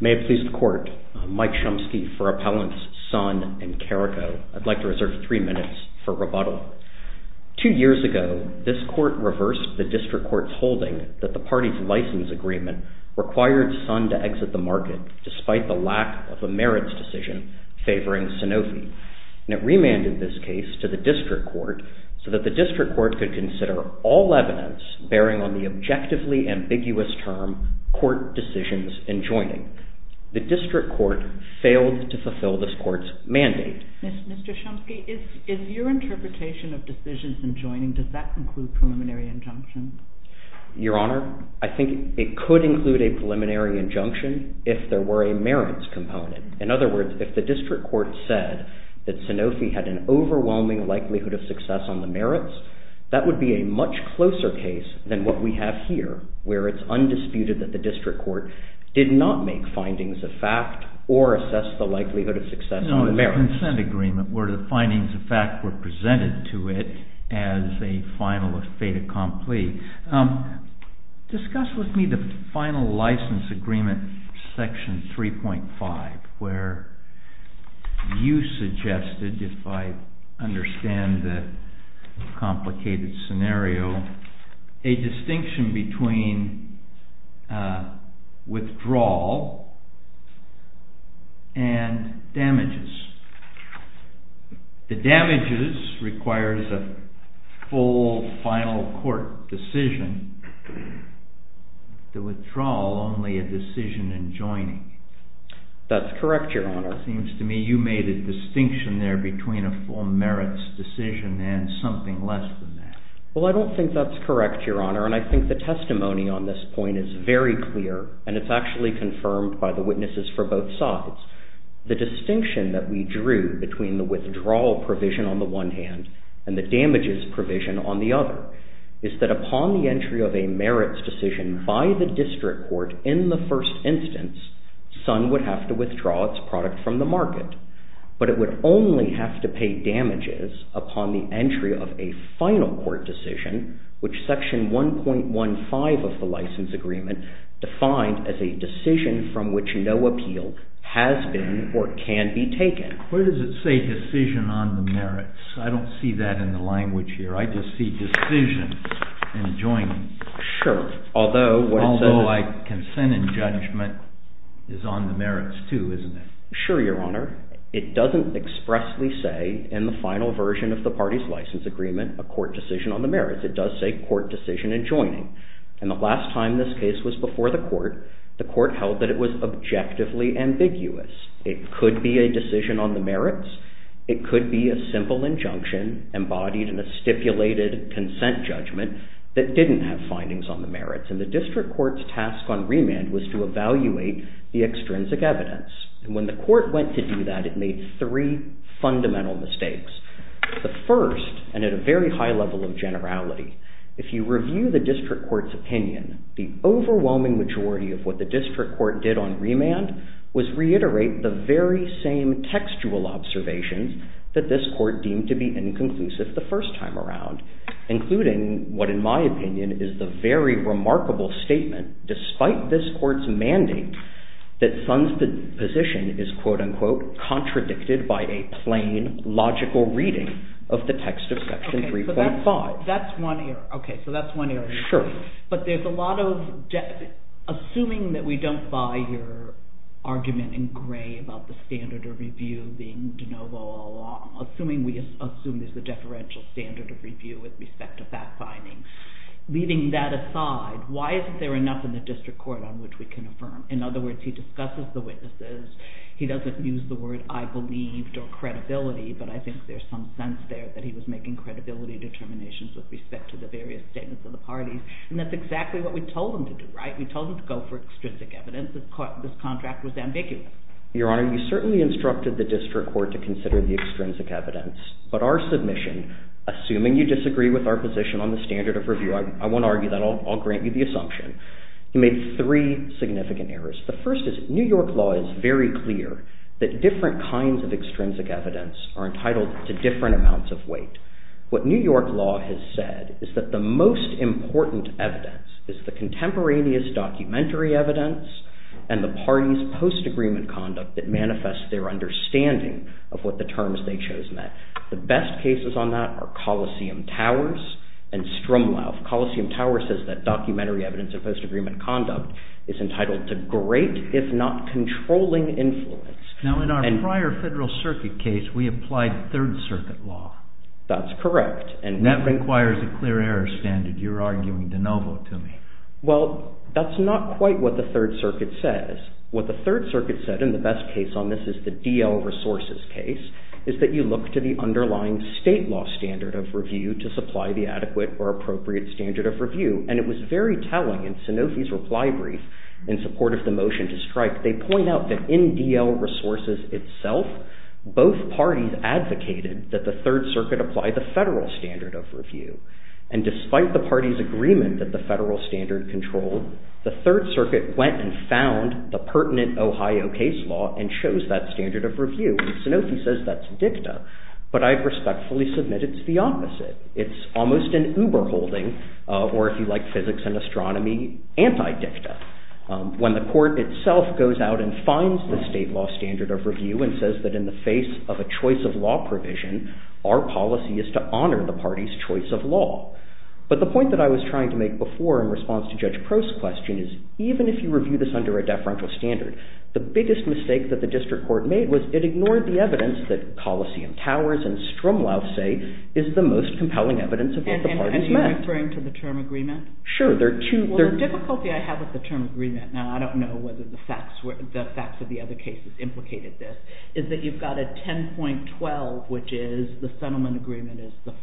May it please the Court, Mike Chomsky for Appellants Sun and Carrico. I'd like to reserve three minutes for rebuttal. Two years ago, this Court reversed the District Court's holding that the party's license agreement required Sun to exit the market despite the lack of a merits decision favoring Sanofi. It remanded this case to the District Court so that the District Court failed to fulfill this Court's mandate. Mr. Chomsky, is your interpretation of decisions and joining, does that include preliminary injunctions? Your Honor, I think it could include a preliminary injunction if there were a merits component. In other words, if the District Court said that Sanofi had an overwhelming likelihood of success on the merits, that would be a much closer case than what we have here where it's undisputed that the District Court did not make findings of fact or assess the likelihood of success on the merits. No, it's a consent agreement where the findings of fact were presented to it as a final fait accompli. Discuss with me the final license agreement, section 3.5, where you suggested, if I understand the complicated scenario, a distinction between withdrawal and damages. The damages requires a full final court decision, the withdrawal only a decision in joining. That's correct, Your Honor. It seems to me you made a distinction there between a full merits decision and something less than that. Well, I don't think that's correct, Your Honor, and I think the testimony on this point is very clear, and it's actually confirmed by the witnesses for both sides. The distinction that we drew between the withdrawal provision on the one hand and the damages provision on the other is that upon the entry of a merits decision by the District Court in the first instance, Sun would have to withdraw its product from the market, but it would only have to pay damages upon the entry of a final court decision, which section 1.15 of the license agreement defined as a decision from which no appeal has been or can be taken. Where does it say decision on the merits? I don't see that in the language here. I just see decision in joining. Although consent and judgment is on the merits too, isn't it? Sure, Your Honor. It doesn't expressly say in the final version of the party's license agreement a court decision on the merits. It does say court decision in joining, and the last time this case was before the court, the court held that it was objectively ambiguous. It could be a decision on the merits. It could be a simple injunction embodied in a stipulated consent judgment that didn't have findings on the merits, and the District Court's task on remand was to evaluate the extrinsic evidence, and when the court went to do that, it made three fundamental mistakes. The first, and at a very high level of generality, if you review the District Court's opinion, the overwhelming majority of what the District Court did on remand was reiterate the very same textual observations that this court deemed to be inconclusive the first time around, including what, in my opinion, is the very remarkable statement, despite this court's manding, that Sun's position is, quote-unquote, contradicted by a plain, logical reading of the text of Section 3.5. Okay, so that's one area. Sure. But there's a lot of, assuming that we don't buy your argument in gray about the standard of review being de novo all along, assuming we assume there's a deferential standard of review with respect to fact-finding. Leaving that aside, why isn't there enough in the District Court on which we can affirm? In other words, he discusses the witnesses. He doesn't use the word, I believed, or credibility, but I think there's some sense there that he was making credibility determinations with respect to the various statements of the parties, and that's exactly what we told him to do, right? We told him to go for extrinsic evidence. This contract was ambiguous. Your Honor, you certainly instructed the District Court to consider the extrinsic evidence, but our submission, assuming you disagree with our position on the standard of review, I won't argue that, I'll grant you the assumption, you made three significant errors. The first is, New York law is very clear that different kinds of extrinsic evidence are entitled to different amounts of weight. What New York law has said is that the most important evidence is the contemporaneous documentary evidence and the parties' post-agreement conduct that manifests their understanding of what the terms they chose meant. The best cases on that are Coliseum Towers and Strumlauf. Coliseum Towers says that documentary evidence and post-agreement conduct is entitled to great, if not controlling, influence. Now, in our prior Federal Circuit case, we applied Third Circuit law. That's correct. And that requires a clear error standard you're arguing de novo to me. Well, that's not quite what the Third Circuit says. What the Third Circuit said, and the best case on this is the DL Resources case, is that you look to the underlying state law standard of review to supply the adequate or appropriate standard of review. And it was very telling in Sanofi's reply brief in support of the motion to strike, they point out that in DL Resources itself, both parties advocated that the Third Circuit apply the federal standard of review. And despite the parties' agreement that the federal standard controlled, the Third Circuit went and found the pertinent Ohio case law and chose that standard of review. And Sanofi says that's dicta. But I respectfully submit it's the opposite. It's almost an Uber holding, or if you like physics and astronomy, anti-dicta. When the court itself goes out and finds the state law standard of review and says that in the face of a choice of law provision, our policy is to honor the party's choice of law. But the point that I was trying to make before in response to Judge Prost's question is even if you review this under a deferential standard, the biggest mistake that the district court made was it ignored the evidence that Coliseum Towers and Strumlauf say is the most compelling evidence of what the parties meant. And are you referring to the term agreement? Sure. Well, the difficulty I have with the term agreement, and I don't know whether the facts of the other cases implicated this, is that you've got a 10.12, which is the settlement agreement is the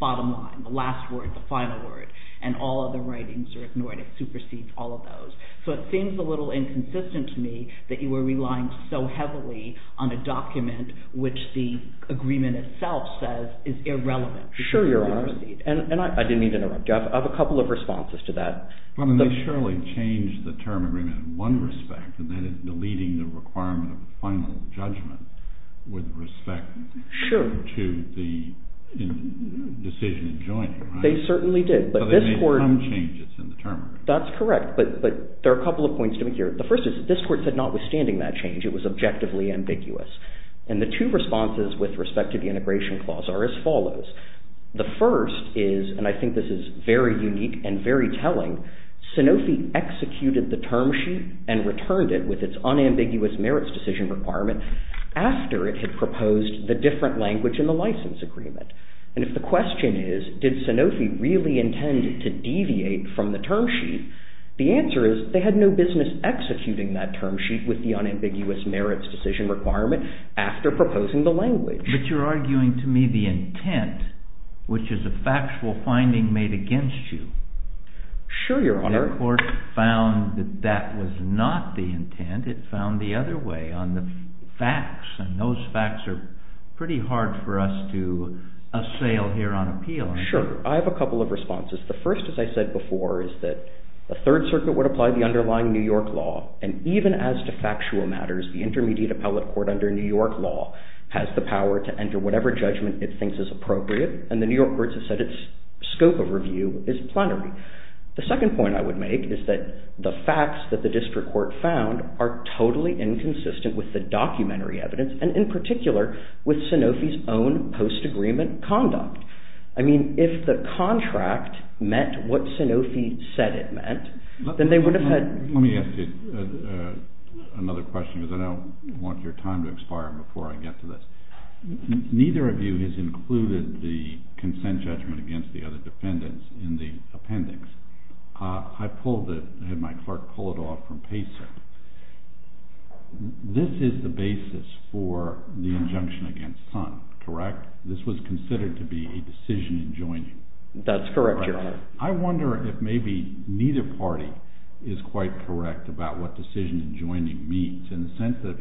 bottom line, the last word, the final word. And all other writings are ignored. It supersedes all of those. So it seems a little inconsistent to me that you were relying so heavily on a document which the agreement itself says is irrelevant. Sure, Your Honor. And I didn't mean to interrupt you. I have a couple of responses to that. Well, I mean, they surely changed the term agreement in one respect, and that is deleting the requirement of a final judgment with respect to the decision in joining, right? They certainly did. But this court— So there may come changes in the term agreement. That's correct. But there are a couple of points to make here. The first is this court said notwithstanding that change, it was objectively ambiguous. And the two responses with respect to the integration clause are as follows. The first is, and I think this is very unique and very telling, Sanofi executed the term sheet and returned it with its unambiguous merits decision requirement after it had proposed the different language in the license agreement. And if the question is, did Sanofi really intend to deviate from the term sheet, the answer is they had no business executing that term sheet with the unambiguous merits decision requirement after proposing the language. But you're arguing to me the intent, which is a factual finding made against you. Sure, Your Honor. The court found that that was not the intent. It found the other way on the facts, and those facts are pretty hard for us to assail here on appeal. Sure. I have a couple of responses. The first, as I said before, is that the Third Circuit would apply the underlying New York law, and even as to factual matters, the intermediate court to enter whatever judgment it thinks is appropriate, and the New York courts have said its scope of review is plenary. The second point I would make is that the facts that the district court found are totally inconsistent with the documentary evidence, and in particular with Sanofi's own post-agreement conduct. I mean, if the contract met what Sanofi said it meant, then they would have had... Let me ask you another question because I don't want your time to expire before I get to this. Neither of you has included the consent judgment against the other defendants in the appendix. I pulled it, had my clerk pull it off from Pacer. This is the basis for the injunction against Sun, correct? This was considered to be a decision in joining. That's correct, Your Honor. I wonder if maybe neither party is quite correct about what decision in joining means, in the sense that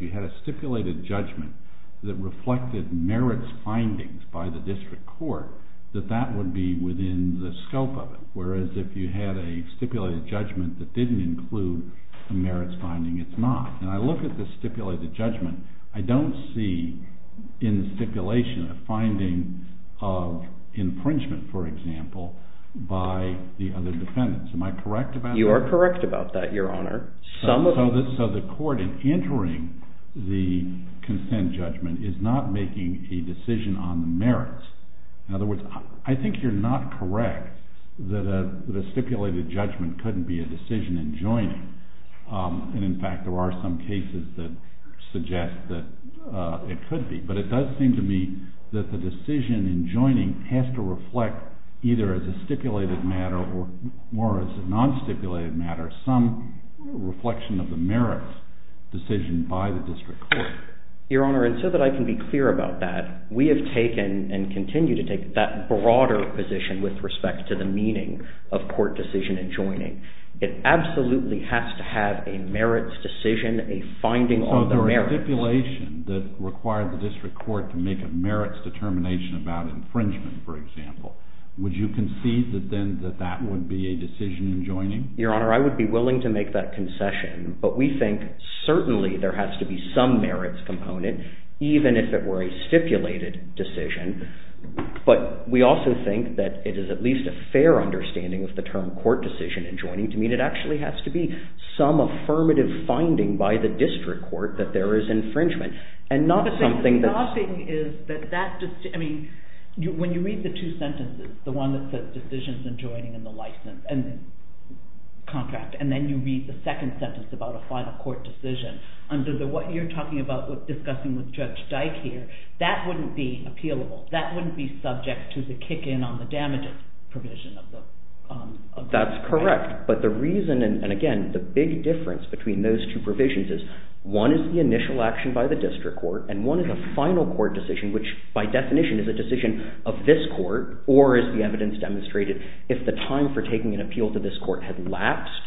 it reflected merits findings by the district court, that that would be within the scope of it, whereas if you had a stipulated judgment that didn't include a merits finding, it's not. And I look at the stipulated judgment, I don't see in the stipulation a finding of infringement, for example, by the other defendants. Am I correct about that? You are correct about that, Your Honor. So the court in entering the consent judgment is not making a decision on the merits. In other words, I think you're not correct that a stipulated judgment couldn't be a decision in joining. And in fact, there are some cases that suggest that it could be. But it does seem to me that the decision in joining has to reflect either as a stipulated matter or as a non-stipulated matter some reflection of the merits decision by the district court. Your Honor, and so that I can be clear about that, we have taken and continue to take that broader position with respect to the meaning of court decision in joining. It absolutely has to have a merits decision, a finding on the merits. So if there was a stipulation that required the district court to make a merits determination about infringement, for example, would you concede that that would be a decision in joining? Your Honor, I would be willing to make that concession. But we think certainly there has to be some merits component, even if it were a stipulated decision. But we also think that it is at least a fair understanding of the term court decision in joining to mean it actually has to be some affirmative finding by the district court that there is infringement. But the thing is that when you read the two sentences, the one that says decisions in joining and the contract, and then you read the second sentence about a final court decision under what you're talking about discussing with Judge Dyke here, that wouldn't be appealable. That wouldn't be subject to the kick in on the damages provision of the contract. That's correct. But the reason, and again, the big difference between those two provisions is one is the initial action by the district court, and one is a final court decision, which by definition is a decision of this court, or as the evidence demonstrated, if the time for taking an appeal to this court had lapsed,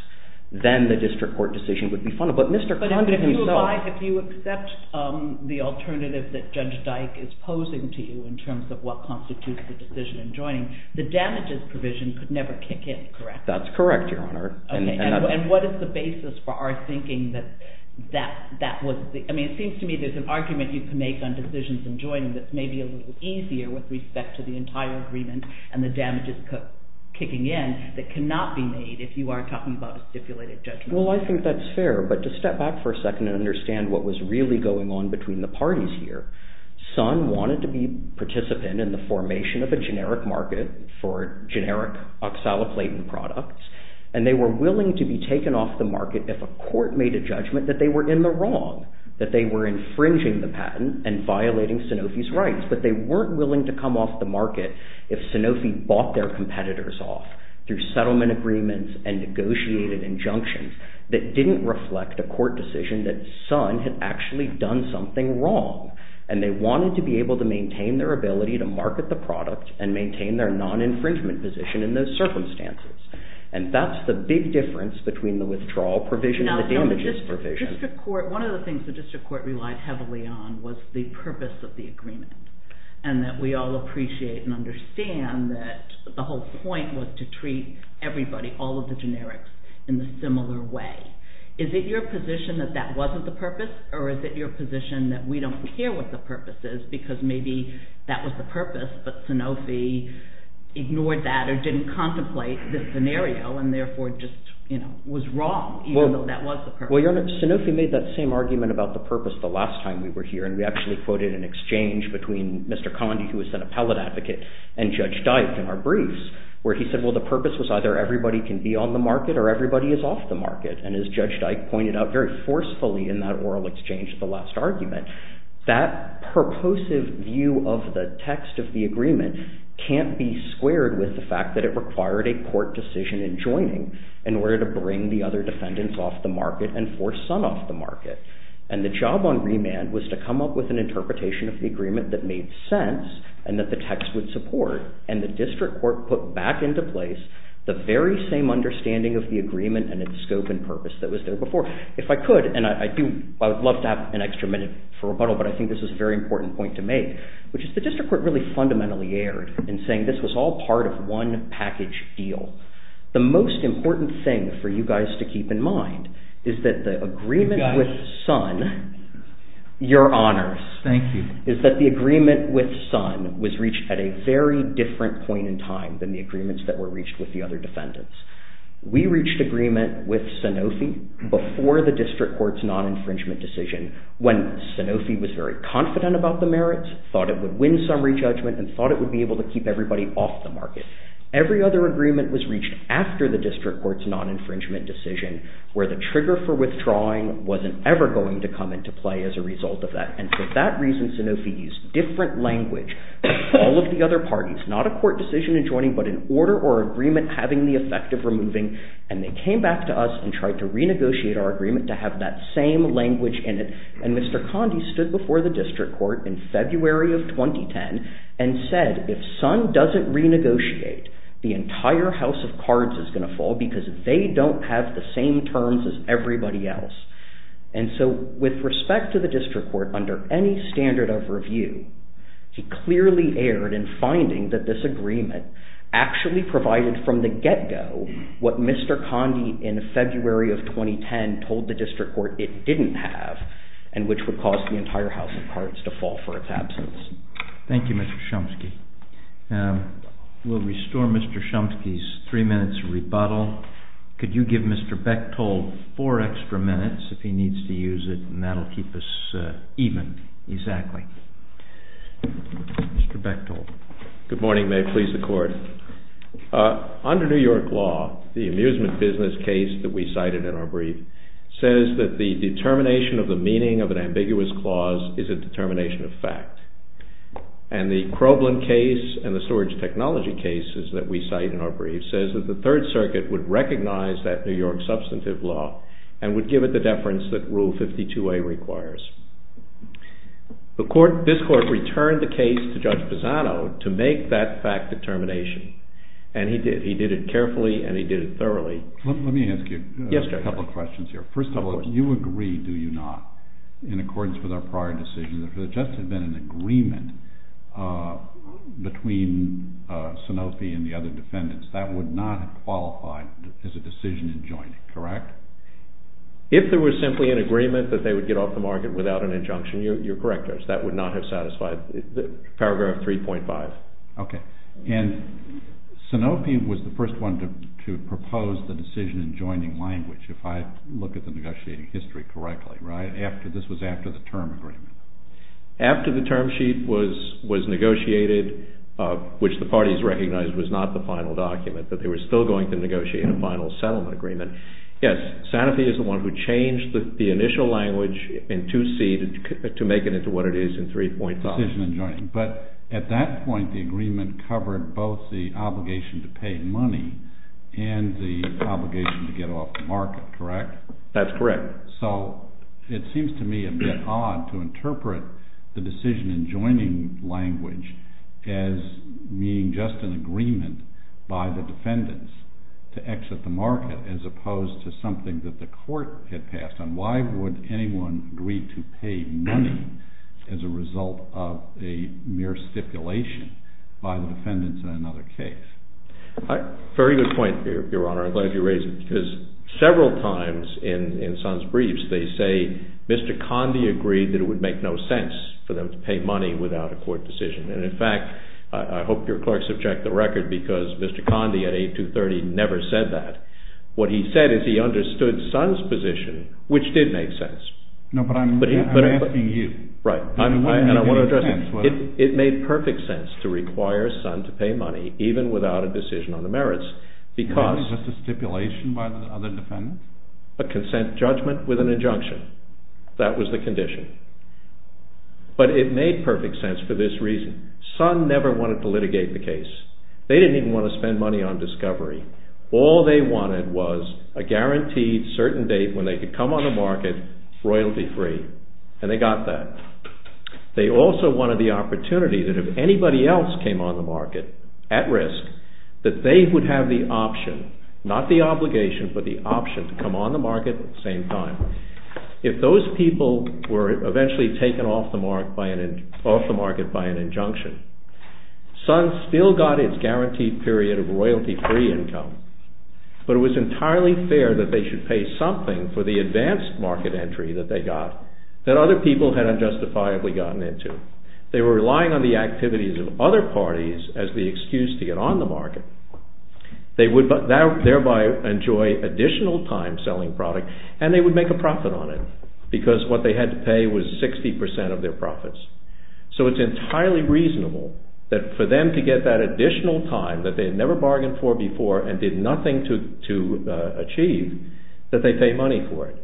then the district court decision would be final. But Mr. Condon himself... But if you accept the alternative that Judge Dyke is posing to you in terms of what constitutes the decision in joining, the damages provision could never kick in, correct? That's correct, Your Honor. And what is the basis for our thinking that that was... I mean, it seems to me there's an argument you can make on decisions in joining that's maybe a little easier with respect to the entire agreement and the damages kicking in that cannot be made if you are talking about a stipulated judgment. Well, I think that's fair. But to step back for a second and understand what was really going on between the parties here, Sun wanted to be a participant in the formation of a And they were willing to be taken off the market if a court made a judgment that they were in the wrong, that they were infringing the patent and violating Sanofi's rights. But they weren't willing to come off the market if Sanofi bought their competitors off through settlement agreements and negotiated injunctions that didn't reflect a court decision that Sun had actually done something wrong. And they wanted to be able to maintain their ability to market the product and maintain their non-infringement position in those circumstances. And that's the big difference between the withdrawal provision and the damages provision. One of the things the district court relied heavily on was the purpose of the agreement and that we all appreciate and understand that the whole point was to treat everybody, all of the generics, in a similar way. Is it your position that that wasn't the purpose or is it your position that we don't care what the purpose is because maybe that was the purpose but Sanofi ignored that or didn't contemplate this scenario and therefore just was wrong even though that was the purpose? Sanofi made that same argument about the purpose the last time we were here and we actually quoted an exchange between Mr. Condie who was an appellate advocate and Judge Dyke in our briefs where he said well the purpose was either everybody can be on the market or everybody is off the market. And as Judge Dyke pointed out very forcefully in that oral exchange, the last argument, that purposive view of the text of the agreement can't be squared with the fact that it required a court decision in joining in order to bring the other defendants off the market and force some off the market. And the job on remand was to come up with an interpretation of the agreement that made sense and that the text would support and the district court put back into place the very same understanding of the agreement and its scope and purpose that was there before. If I could, and I would love to have an extra minute for rebuttal, but I think this is a very important point to make, which is the district court really fundamentally erred in saying this was all part of one package deal. The most important thing for you guys to keep in mind is that the agreement with Sun, your honors, is that the agreement with Sun was reached at a very different point in time than the agreements that were reached with the other defendants. We reached agreement with Sanofi before the district court's non-infringement decision when Sanofi was very confident about the merits, thought it would win summary judgment, and thought it would be able to keep everybody off the market. Every other agreement was reached after the district court's non-infringement decision where the trigger for withdrawing wasn't ever going to come into play as a result of that. And for that reason, Sanofi used different language than all of the other parties. It's not a court decision in joining, but an order or agreement having the effect of removing. And they came back to us and tried to renegotiate our agreement to have that same language in it. And Mr. Conde stood before the district court in February of 2010 and said, if Sun doesn't renegotiate, the entire House of Cards is going to fall because they don't have the same terms as everybody else. And so with respect to the district court, under any standard of review, he clearly erred in finding that this agreement actually provided from the get-go what Mr. Conde in February of 2010 told the district court it didn't have, and which would cause the entire House of Cards to fall for its absence. Thank you, Mr. Chomsky. We'll restore Mr. Chomsky's three minutes rebuttal. Could you give Mr. Bechtold four extra minutes, if he needs to use it, and that'll keep us even. Exactly. Mr. Bechtold. Good morning. May it please the Court. Under New York law, the amusement business case that we cited in our brief says that the determination of the meaning of an ambiguous clause is a determination of fact. And the Crobland case and the storage technology cases that we cite in our brief says that the Third Circuit would recognize that New York substantive law and would give it the deference that Rule 52A requires. This Court returned the case to Judge Pisano to make that fact determination, and he did. He did it carefully and he did it thoroughly. Let me ask you a couple questions here. First of all, do you agree, do you not, in accordance with our prior decision, that if there just had been an agreement between Sanofi and the other defendants, that would not have qualified as a decision in joining, correct? If there was simply an agreement that they would get off the market without an injunction, you're correct, Judge. That would not have satisfied Paragraph 3.5. Okay. And Sanofi was the first one to propose the decision in joining language, if I look at the negotiating history correctly, right? This was after the term agreement. After the term sheet was negotiated, which the parties recognized was not the final document, but they were still going to negotiate a final settlement agreement. Yes, Sanofi is the one who changed the initial language in 2C to make it into what it is in 3.5. But at that point, the agreement covered both the obligation to pay money and the obligation to get off the market, correct? That's correct. So it seems to me a bit odd to interpret the decision in joining language as meaning just an agreement by the defendants to exit the market as opposed to something that the court had passed on. Why would anyone agree to pay money as a result of a mere stipulation by the defendants in another case? Very good point, Your Honor. I'm glad you raised it. Because several times in Sun's briefs, they say Mr. Conde agreed that it would make no sense for them to pay money without a court decision. And in fact, I hope your clerks have checked the record because Mr. Conde at 8-230 never said that. What he said is he understood Sun's position, which did make sense. No, but I'm asking you. Right, and I want to address it. It made perfect sense to require Sun to pay money even without a decision on the merits because… A consent judgment with an injunction. That was the condition. But it made perfect sense for this reason. Sun never wanted to litigate the case. They didn't even want to spend money on discovery. All they wanted was a guaranteed certain date when they could come on the market royalty-free. And they got that. They also wanted the opportunity that if anybody else came on the market at risk, that they would have the option, not the obligation, but the option to come on the market at the same time. If those people were eventually taken off the market by an injunction, Sun still got its guaranteed period of royalty-free income. But it was entirely fair that they should pay something for the advanced market entry that they got that other people had unjustifiably gotten into. They were relying on the activities of other parties as the excuse to get on the market. They would thereby enjoy additional time selling product and they would make a profit on it because what they had to pay was 60% of their profits. So it's entirely reasonable that for them to get that additional time that they had never bargained for before and did nothing to achieve, that they pay money for it.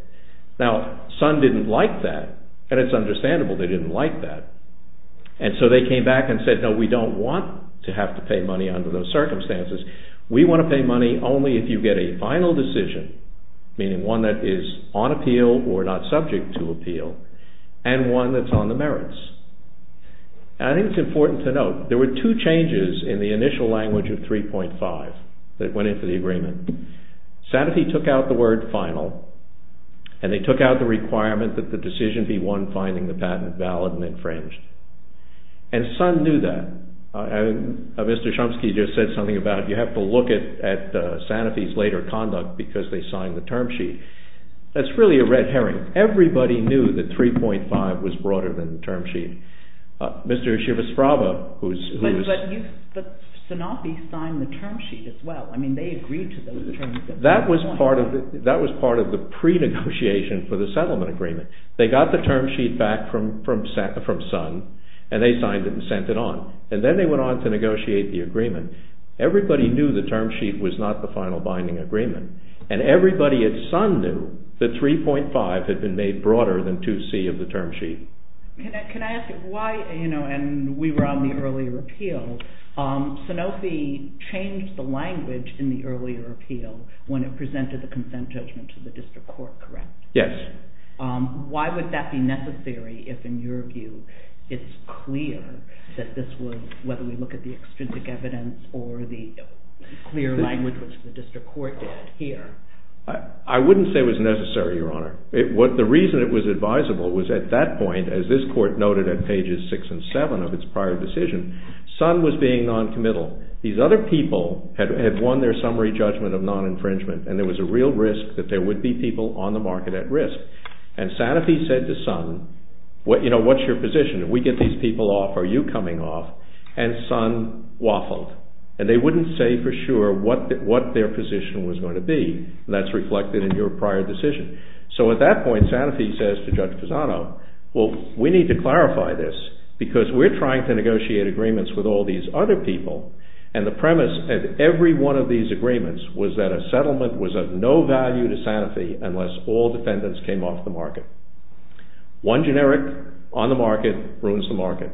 Now Sun didn't like that and it's understandable they didn't like that. And so they came back and said, no, we don't want to have to pay money under those circumstances. We want to pay money only if you get a final decision, meaning one that is on appeal or not subject to appeal and one that's on the merits. I think it's important to note there were two changes in the initial language of 3.5 that went into the agreement. Sanofi took out the word final and they took out the requirement that the decision be one finding the patent valid and infringed. And Sun knew that. Mr. Chomsky just said something about you have to look at Sanofi's later conduct because they signed the term sheet. That's really a red herring. Everybody knew that 3.5 was broader than the term sheet. Mr. Shivasrava who's… But Sanofi signed the term sheet as well. I mean they agreed to those terms. That was part of the pre-negotiation for the settlement agreement. They got the term sheet back from Sun and they signed it and sent it on. And then they went on to negotiate the agreement. Everybody knew the term sheet was not the final binding agreement. And everybody at Sun knew that 3.5 had been made broader than 2C of the term sheet. Can I ask you why, you know, and we were on the earlier appeal, Sanofi changed the language in the earlier appeal when it presented the consent judgment to the district court, correct? Yes. Why would that be necessary if in your view it's clear that this was, whether we look at the extrinsic evidence or the clear language which the district court did here? I wouldn't say it was necessary, Your Honor. The reason it was advisable was at that point, as this court noted at pages 6 and 7 of its prior decision, Sun was being non-committal. These other people had won their summary judgment of non-infringement and there was a real risk that there would be people on the market at risk. And Sanofi said to Sun, you know, what's your position? If we get these people off, are you coming off? And Sun waffled. And they wouldn't say for sure what their position was going to be. That's reflected in your prior decision. So at that point, Sanofi says to Judge Pisano, well, we need to clarify this because we're trying to negotiate agreements with all these other people and the premise of every one of these agreements was that a settlement was of no value to Sanofi unless all defendants came off the market. One generic, on the market, ruins the market.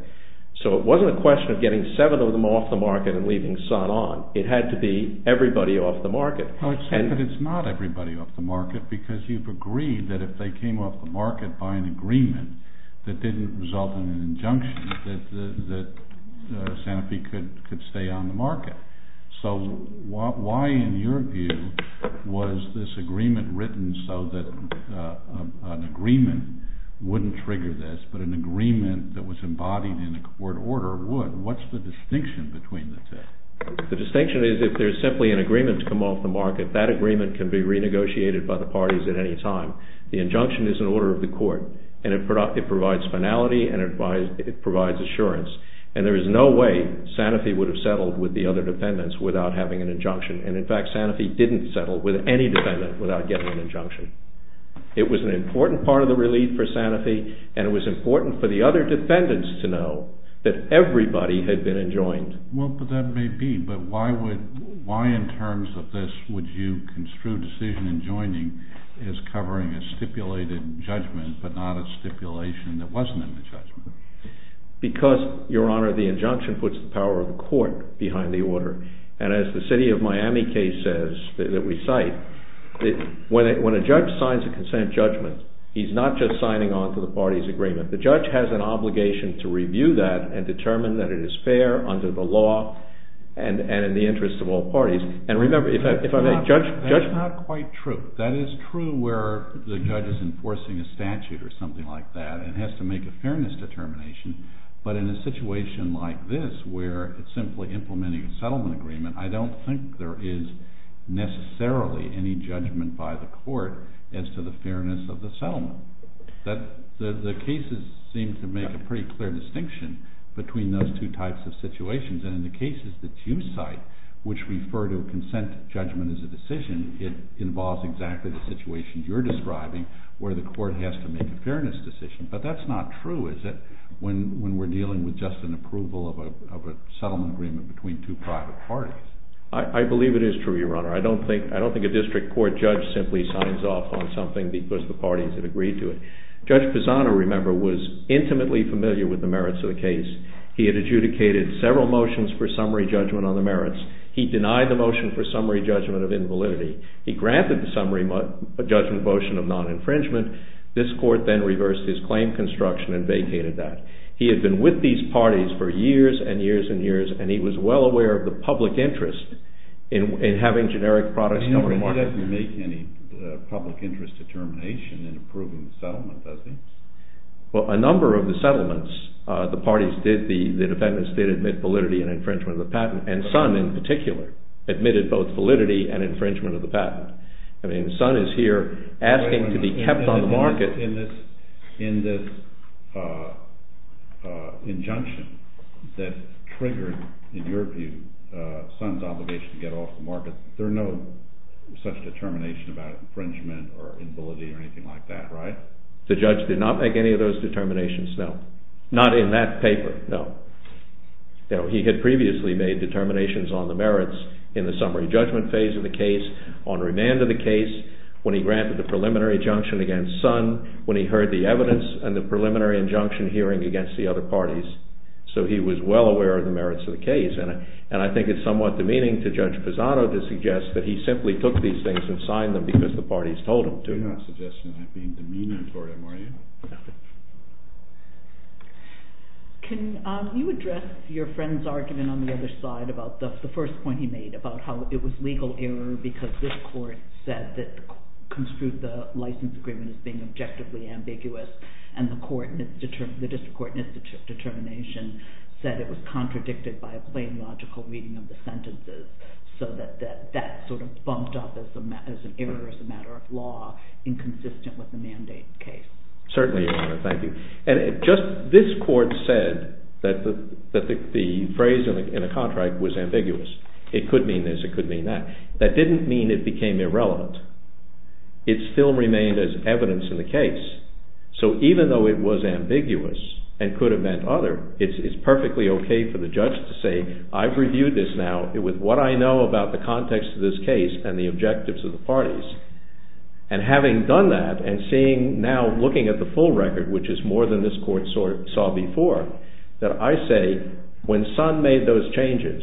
So it wasn't a question of getting seven of them off the market and leaving Sun on. It had to be everybody off the market. It's not everybody off the market because you've agreed that if they came off the market by an agreement that didn't result in an injunction that Sanofi could stay on the market. So why in your view was this agreement written so that an agreement wouldn't trigger this but an agreement that was embodied in a court order would? What's the distinction between the two? The distinction is if there's simply an agreement to come off the market, that agreement can be renegotiated by the parties at any time. The injunction is an order of the court and it provides finality and it provides assurance and there is no way Sanofi would have settled with the other defendants without having an injunction and, in fact, Sanofi didn't settle with any defendant without getting an injunction. It was an important part of the relief for Sanofi and it was important for the other defendants to know that everybody had been enjoined. Well, that may be, but why in terms of this would you construe decision enjoining as covering a stipulated judgment but not a stipulation that wasn't in the judgment? Because, Your Honor, the injunction puts the power of the court behind the order and as the city of Miami case says that we cite, when a judge signs a consent judgment, he's not just signing on to the party's agreement. The judge has an obligation to review that and determine that it is fair under the law and in the interest of all parties. And remember, if I may, Judge… That's not quite true. That is true where the judge is enforcing a statute or something like that and has to make a fairness determination, but in a situation like this where it's simply implementing a settlement agreement, I don't think there is necessarily any judgment by the court as to the fairness of the settlement. The cases seem to make a pretty clear distinction between those two types of situations and in the cases that you cite, which refer to consent judgment as a decision, it involves exactly the situation you're describing where the court has to make a fairness decision. But that's not true, is it, when we're dealing with just an approval of a settlement agreement between two private parties? I believe it is true, Your Honor. I don't think a district court judge simply signs off on something because the parties have agreed to it. Judge Pisano, remember, was intimately familiar with the merits of the case. He had adjudicated several motions for summary judgment on the merits. He denied the motion for summary judgment of invalidity. He granted the summary judgment motion of non-infringement. This court then reversed his claim construction and vacated that. He had been with these parties for years and years and years, and he was well aware of the public interest in having generic products… But he doesn't make any public interest determination in approving the settlement, does he? Well, a number of the settlements the parties did, the defendants did admit validity and infringement of the patent, and Sun in particular admitted both validity and infringement of the patent. I mean, Sun is here asking to be kept on the market. In this injunction that triggered, in your view, Sun's obligation to get off the market, there's no such determination about infringement or invalidity or anything like that, right? The judge did not make any of those determinations, no. Not in that paper, no. He had previously made determinations on the merits in the summary judgment phase of the case, on remand of the case, when he granted the preliminary injunction against Sun, when he heard the evidence and the preliminary injunction hearing against the other parties. So he was well aware of the merits of the case. And I think it's somewhat demeaning to Judge Pisano to suggest that he simply took these things and signed them because the parties told him to. You're not suggesting I'm being demeaning toward him, are you? No. Can you address your friend's argument on the other side about the first point he made, about how it was legal error because this court said that it construed the license agreement as being objectively ambiguous, and the district court in its determination said it was contradicted by a plain logical reading of the sentences, so that that sort of bumped up as an error as a matter of law, inconsistent with the mandate case. Certainly, Your Honor, thank you. And just this court said that the phrase in the contract was ambiguous. It could mean this, it could mean that. That didn't mean it became irrelevant. It still remained as evidence in the case. So even though it was ambiguous and could have meant other, it's perfectly okay for the judge to say, I've reviewed this now with what I know about the context of this case and the objectives of the parties. And having done that and seeing, now looking at the full record, which is more than this court saw before, that I say when Sun made those changes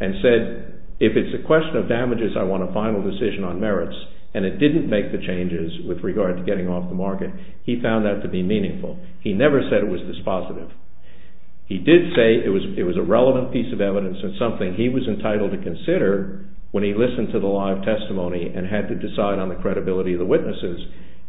and said, if it's a question of damages, I want a final decision on merits, and it didn't make the changes with regard to getting off the market, he found that to be meaningful. He never said it was dispositive. He did say it was a relevant piece of evidence and something he was entitled to consider when he listened to the live testimony and had to decide on the credibility of the witnesses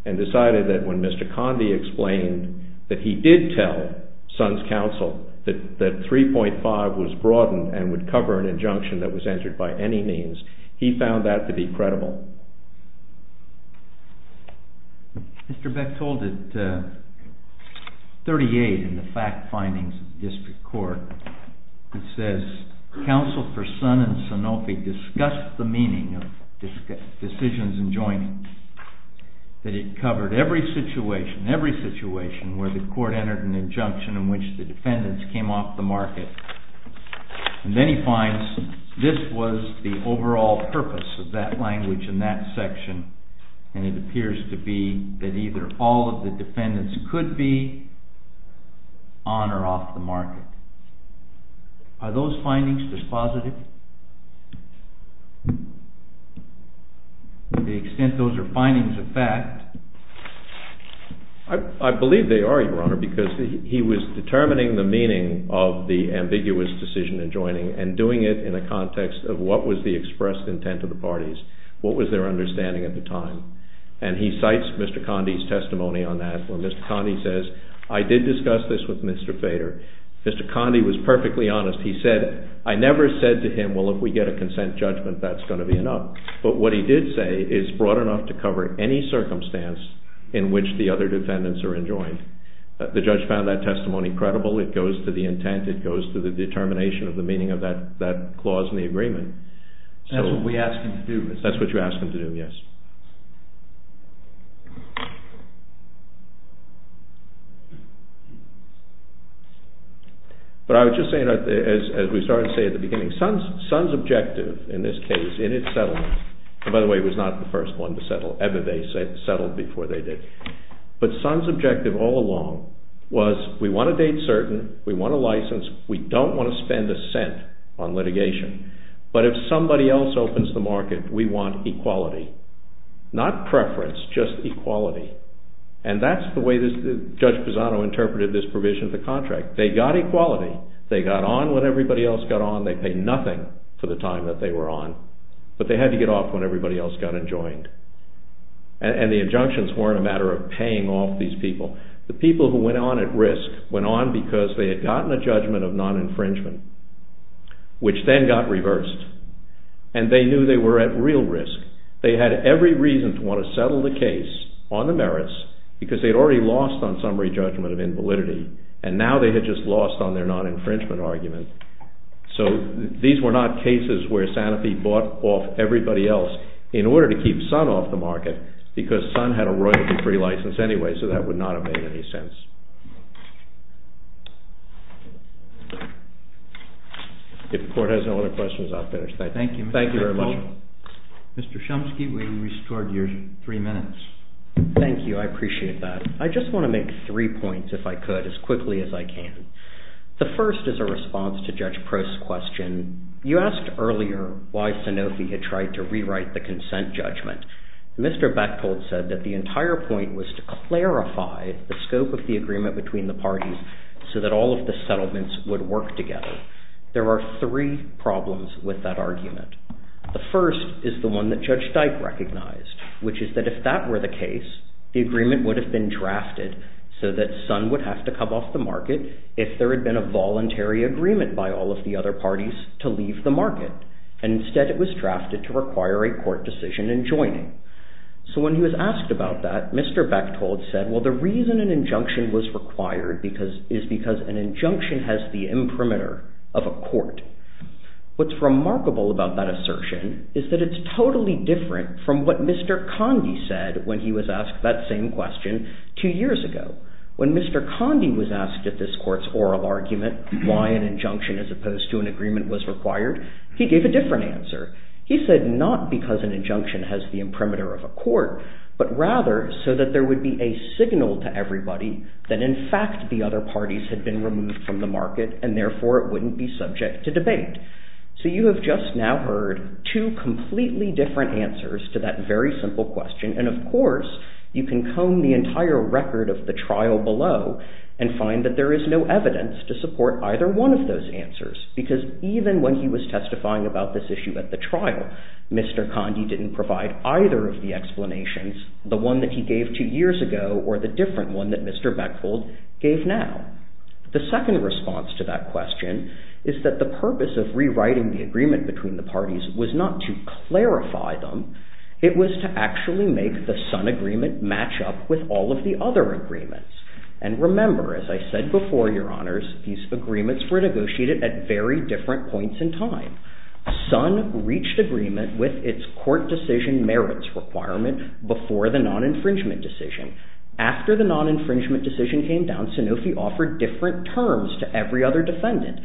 and decided that when Mr. Conde explained that he did tell Sun's counsel that 3.5 was broadened and would cover an injunction that was entered by any means, he found that to be credible. Mr. Beck told at 38 in the fact findings of the district court, it says counsel for Sun and Sanofi discussed the meaning of decisions in joining, that it covered every situation, every situation where the court entered an injunction in which the defendants came off the market. And then he finds this was the overall purpose of that language in that section, and it appears to be that either all of the defendants could be on or off the market. Are those findings dispositive? To the extent those are findings of fact... I believe they are, Your Honor, because he was determining the meaning of the ambiguous decision in joining and doing it in the context of what was the expressed intent of the parties, what was their understanding at the time. And he cites Mr. Conde's testimony on that, where Mr. Conde says, I did discuss this with Mr. Fader. Mr. Conde was perfectly honest. He said, I never said to him, well, if we get a consent judgment, that's going to be enough. But what he did say is broad enough to cover any circumstance in which the other defendants are enjoined. The judge found that testimony credible. It goes to the intent. It goes to the determination of the meaning of that clause in the agreement. That's what we ask him to do, isn't it? That's what you ask him to do, yes. But I was just saying, as we started to say at the beginning, Sun's objective in this case, in its settlement, and by the way, it was not the first one to settle, Ebenezer settled before they did, but Sun's objective all along was we want a date certain, we want a license, we don't want to spend a cent on litigation. But if somebody else opens the market, we want equality. Not preference, just equality. And that's the way Judge Pisano interpreted this provision of the contract. They got equality. They got on when everybody else got on. They paid nothing for the time that they were on. But they had to get off when everybody else got enjoined. And the injunctions weren't a matter of paying off these people. The people who went on at risk went on because they had gotten a judgment of non-infringement, which then got reversed. And they knew they were at real risk. They had every reason to want to settle the case on the merits because they'd already lost on summary judgment of invalidity, and now they had just lost on their non-infringement argument. So these were not cases where Sanofi bought off everybody else in order to keep Sun off the market because Sun had a royalty-free license anyway, so that would not have made any sense. If the court has no other questions, I'll finish. Thank you. Thank you very much. Mr. Bechtold, Mr. Chomsky, we restored your three minutes. Thank you. I appreciate that. I just want to make three points, if I could, as quickly as I can. The first is a response to Judge Prost's question. You asked earlier why Sanofi had tried to rewrite the consent judgment. Mr. Bechtold said that the entire point was to clarify the scope of the agreement between the parties so that all of the settlements would work together. There are three problems with that argument. The first is the one that Judge Dyke recognized, which is that if that were the case, the agreement would have been drafted so that Sun would have to come off the market if there had been a voluntary agreement by all of the other parties to leave the market, and instead it was drafted to require a court decision in joining. So when he was asked about that, Mr. Bechtold said, well, the reason an injunction was required is because an injunction has the imprimatur of a court. What's remarkable about that assertion is that it's totally different from what Mr. Conde said when he was asked that same question two years ago. When Mr. Conde was asked at this court's oral argument why an injunction as opposed to an agreement was required, he gave a different answer. He said not because an injunction has the imprimatur of a court, but rather so that there would be a signal to everybody that in fact the other parties had been removed from the market, and therefore it wouldn't be subject to debate. So you have just now heard two completely different answers to that very simple question, and of course you can comb the entire record of the trial below and find that there is no evidence to support either one of those answers because even when he was testifying about this issue at the trial, Mr. Conde didn't provide either of the explanations, the one that he gave two years ago or the different one that Mr. Beckfeld gave now. The second response to that question is that the purpose of rewriting the agreement between the parties was not to clarify them, it was to actually make the Sun agreement match up with all of the other agreements. And remember, as I said before, Your Honors, these agreements were negotiated at very different points in time. Sun reached agreement with its court decision merits requirement before the non-infringement decision. After the non-infringement decision came down, Sanofi offered different terms to every other defendant.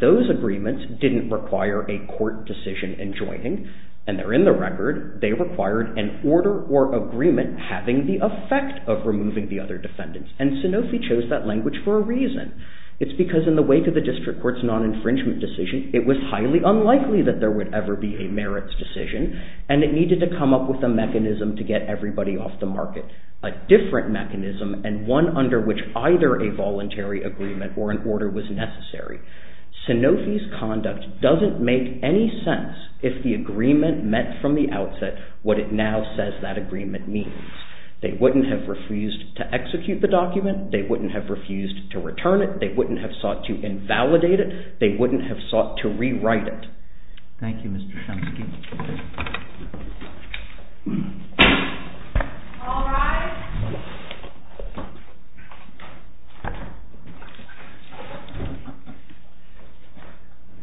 Those agreements didn't require a court decision in joining, and there in the record, they required an order or agreement having the effect of removing the other defendants, and Sanofi chose that language for a reason. It's because in the wake of the district court's non-infringement decision, it was highly unlikely that there would ever be a merits decision, and it needed to come up with a mechanism to get everybody off the market. A different mechanism, and one under which either a voluntary agreement or an order was necessary. Sanofi's conduct doesn't make any sense if the agreement meant from the outset what it now says that agreement means. They wouldn't have refused to execute the document, they wouldn't have refused to return it, they wouldn't have sought to invalidate it, they wouldn't have sought to rewrite it. Thank you, Mr. Shumsky.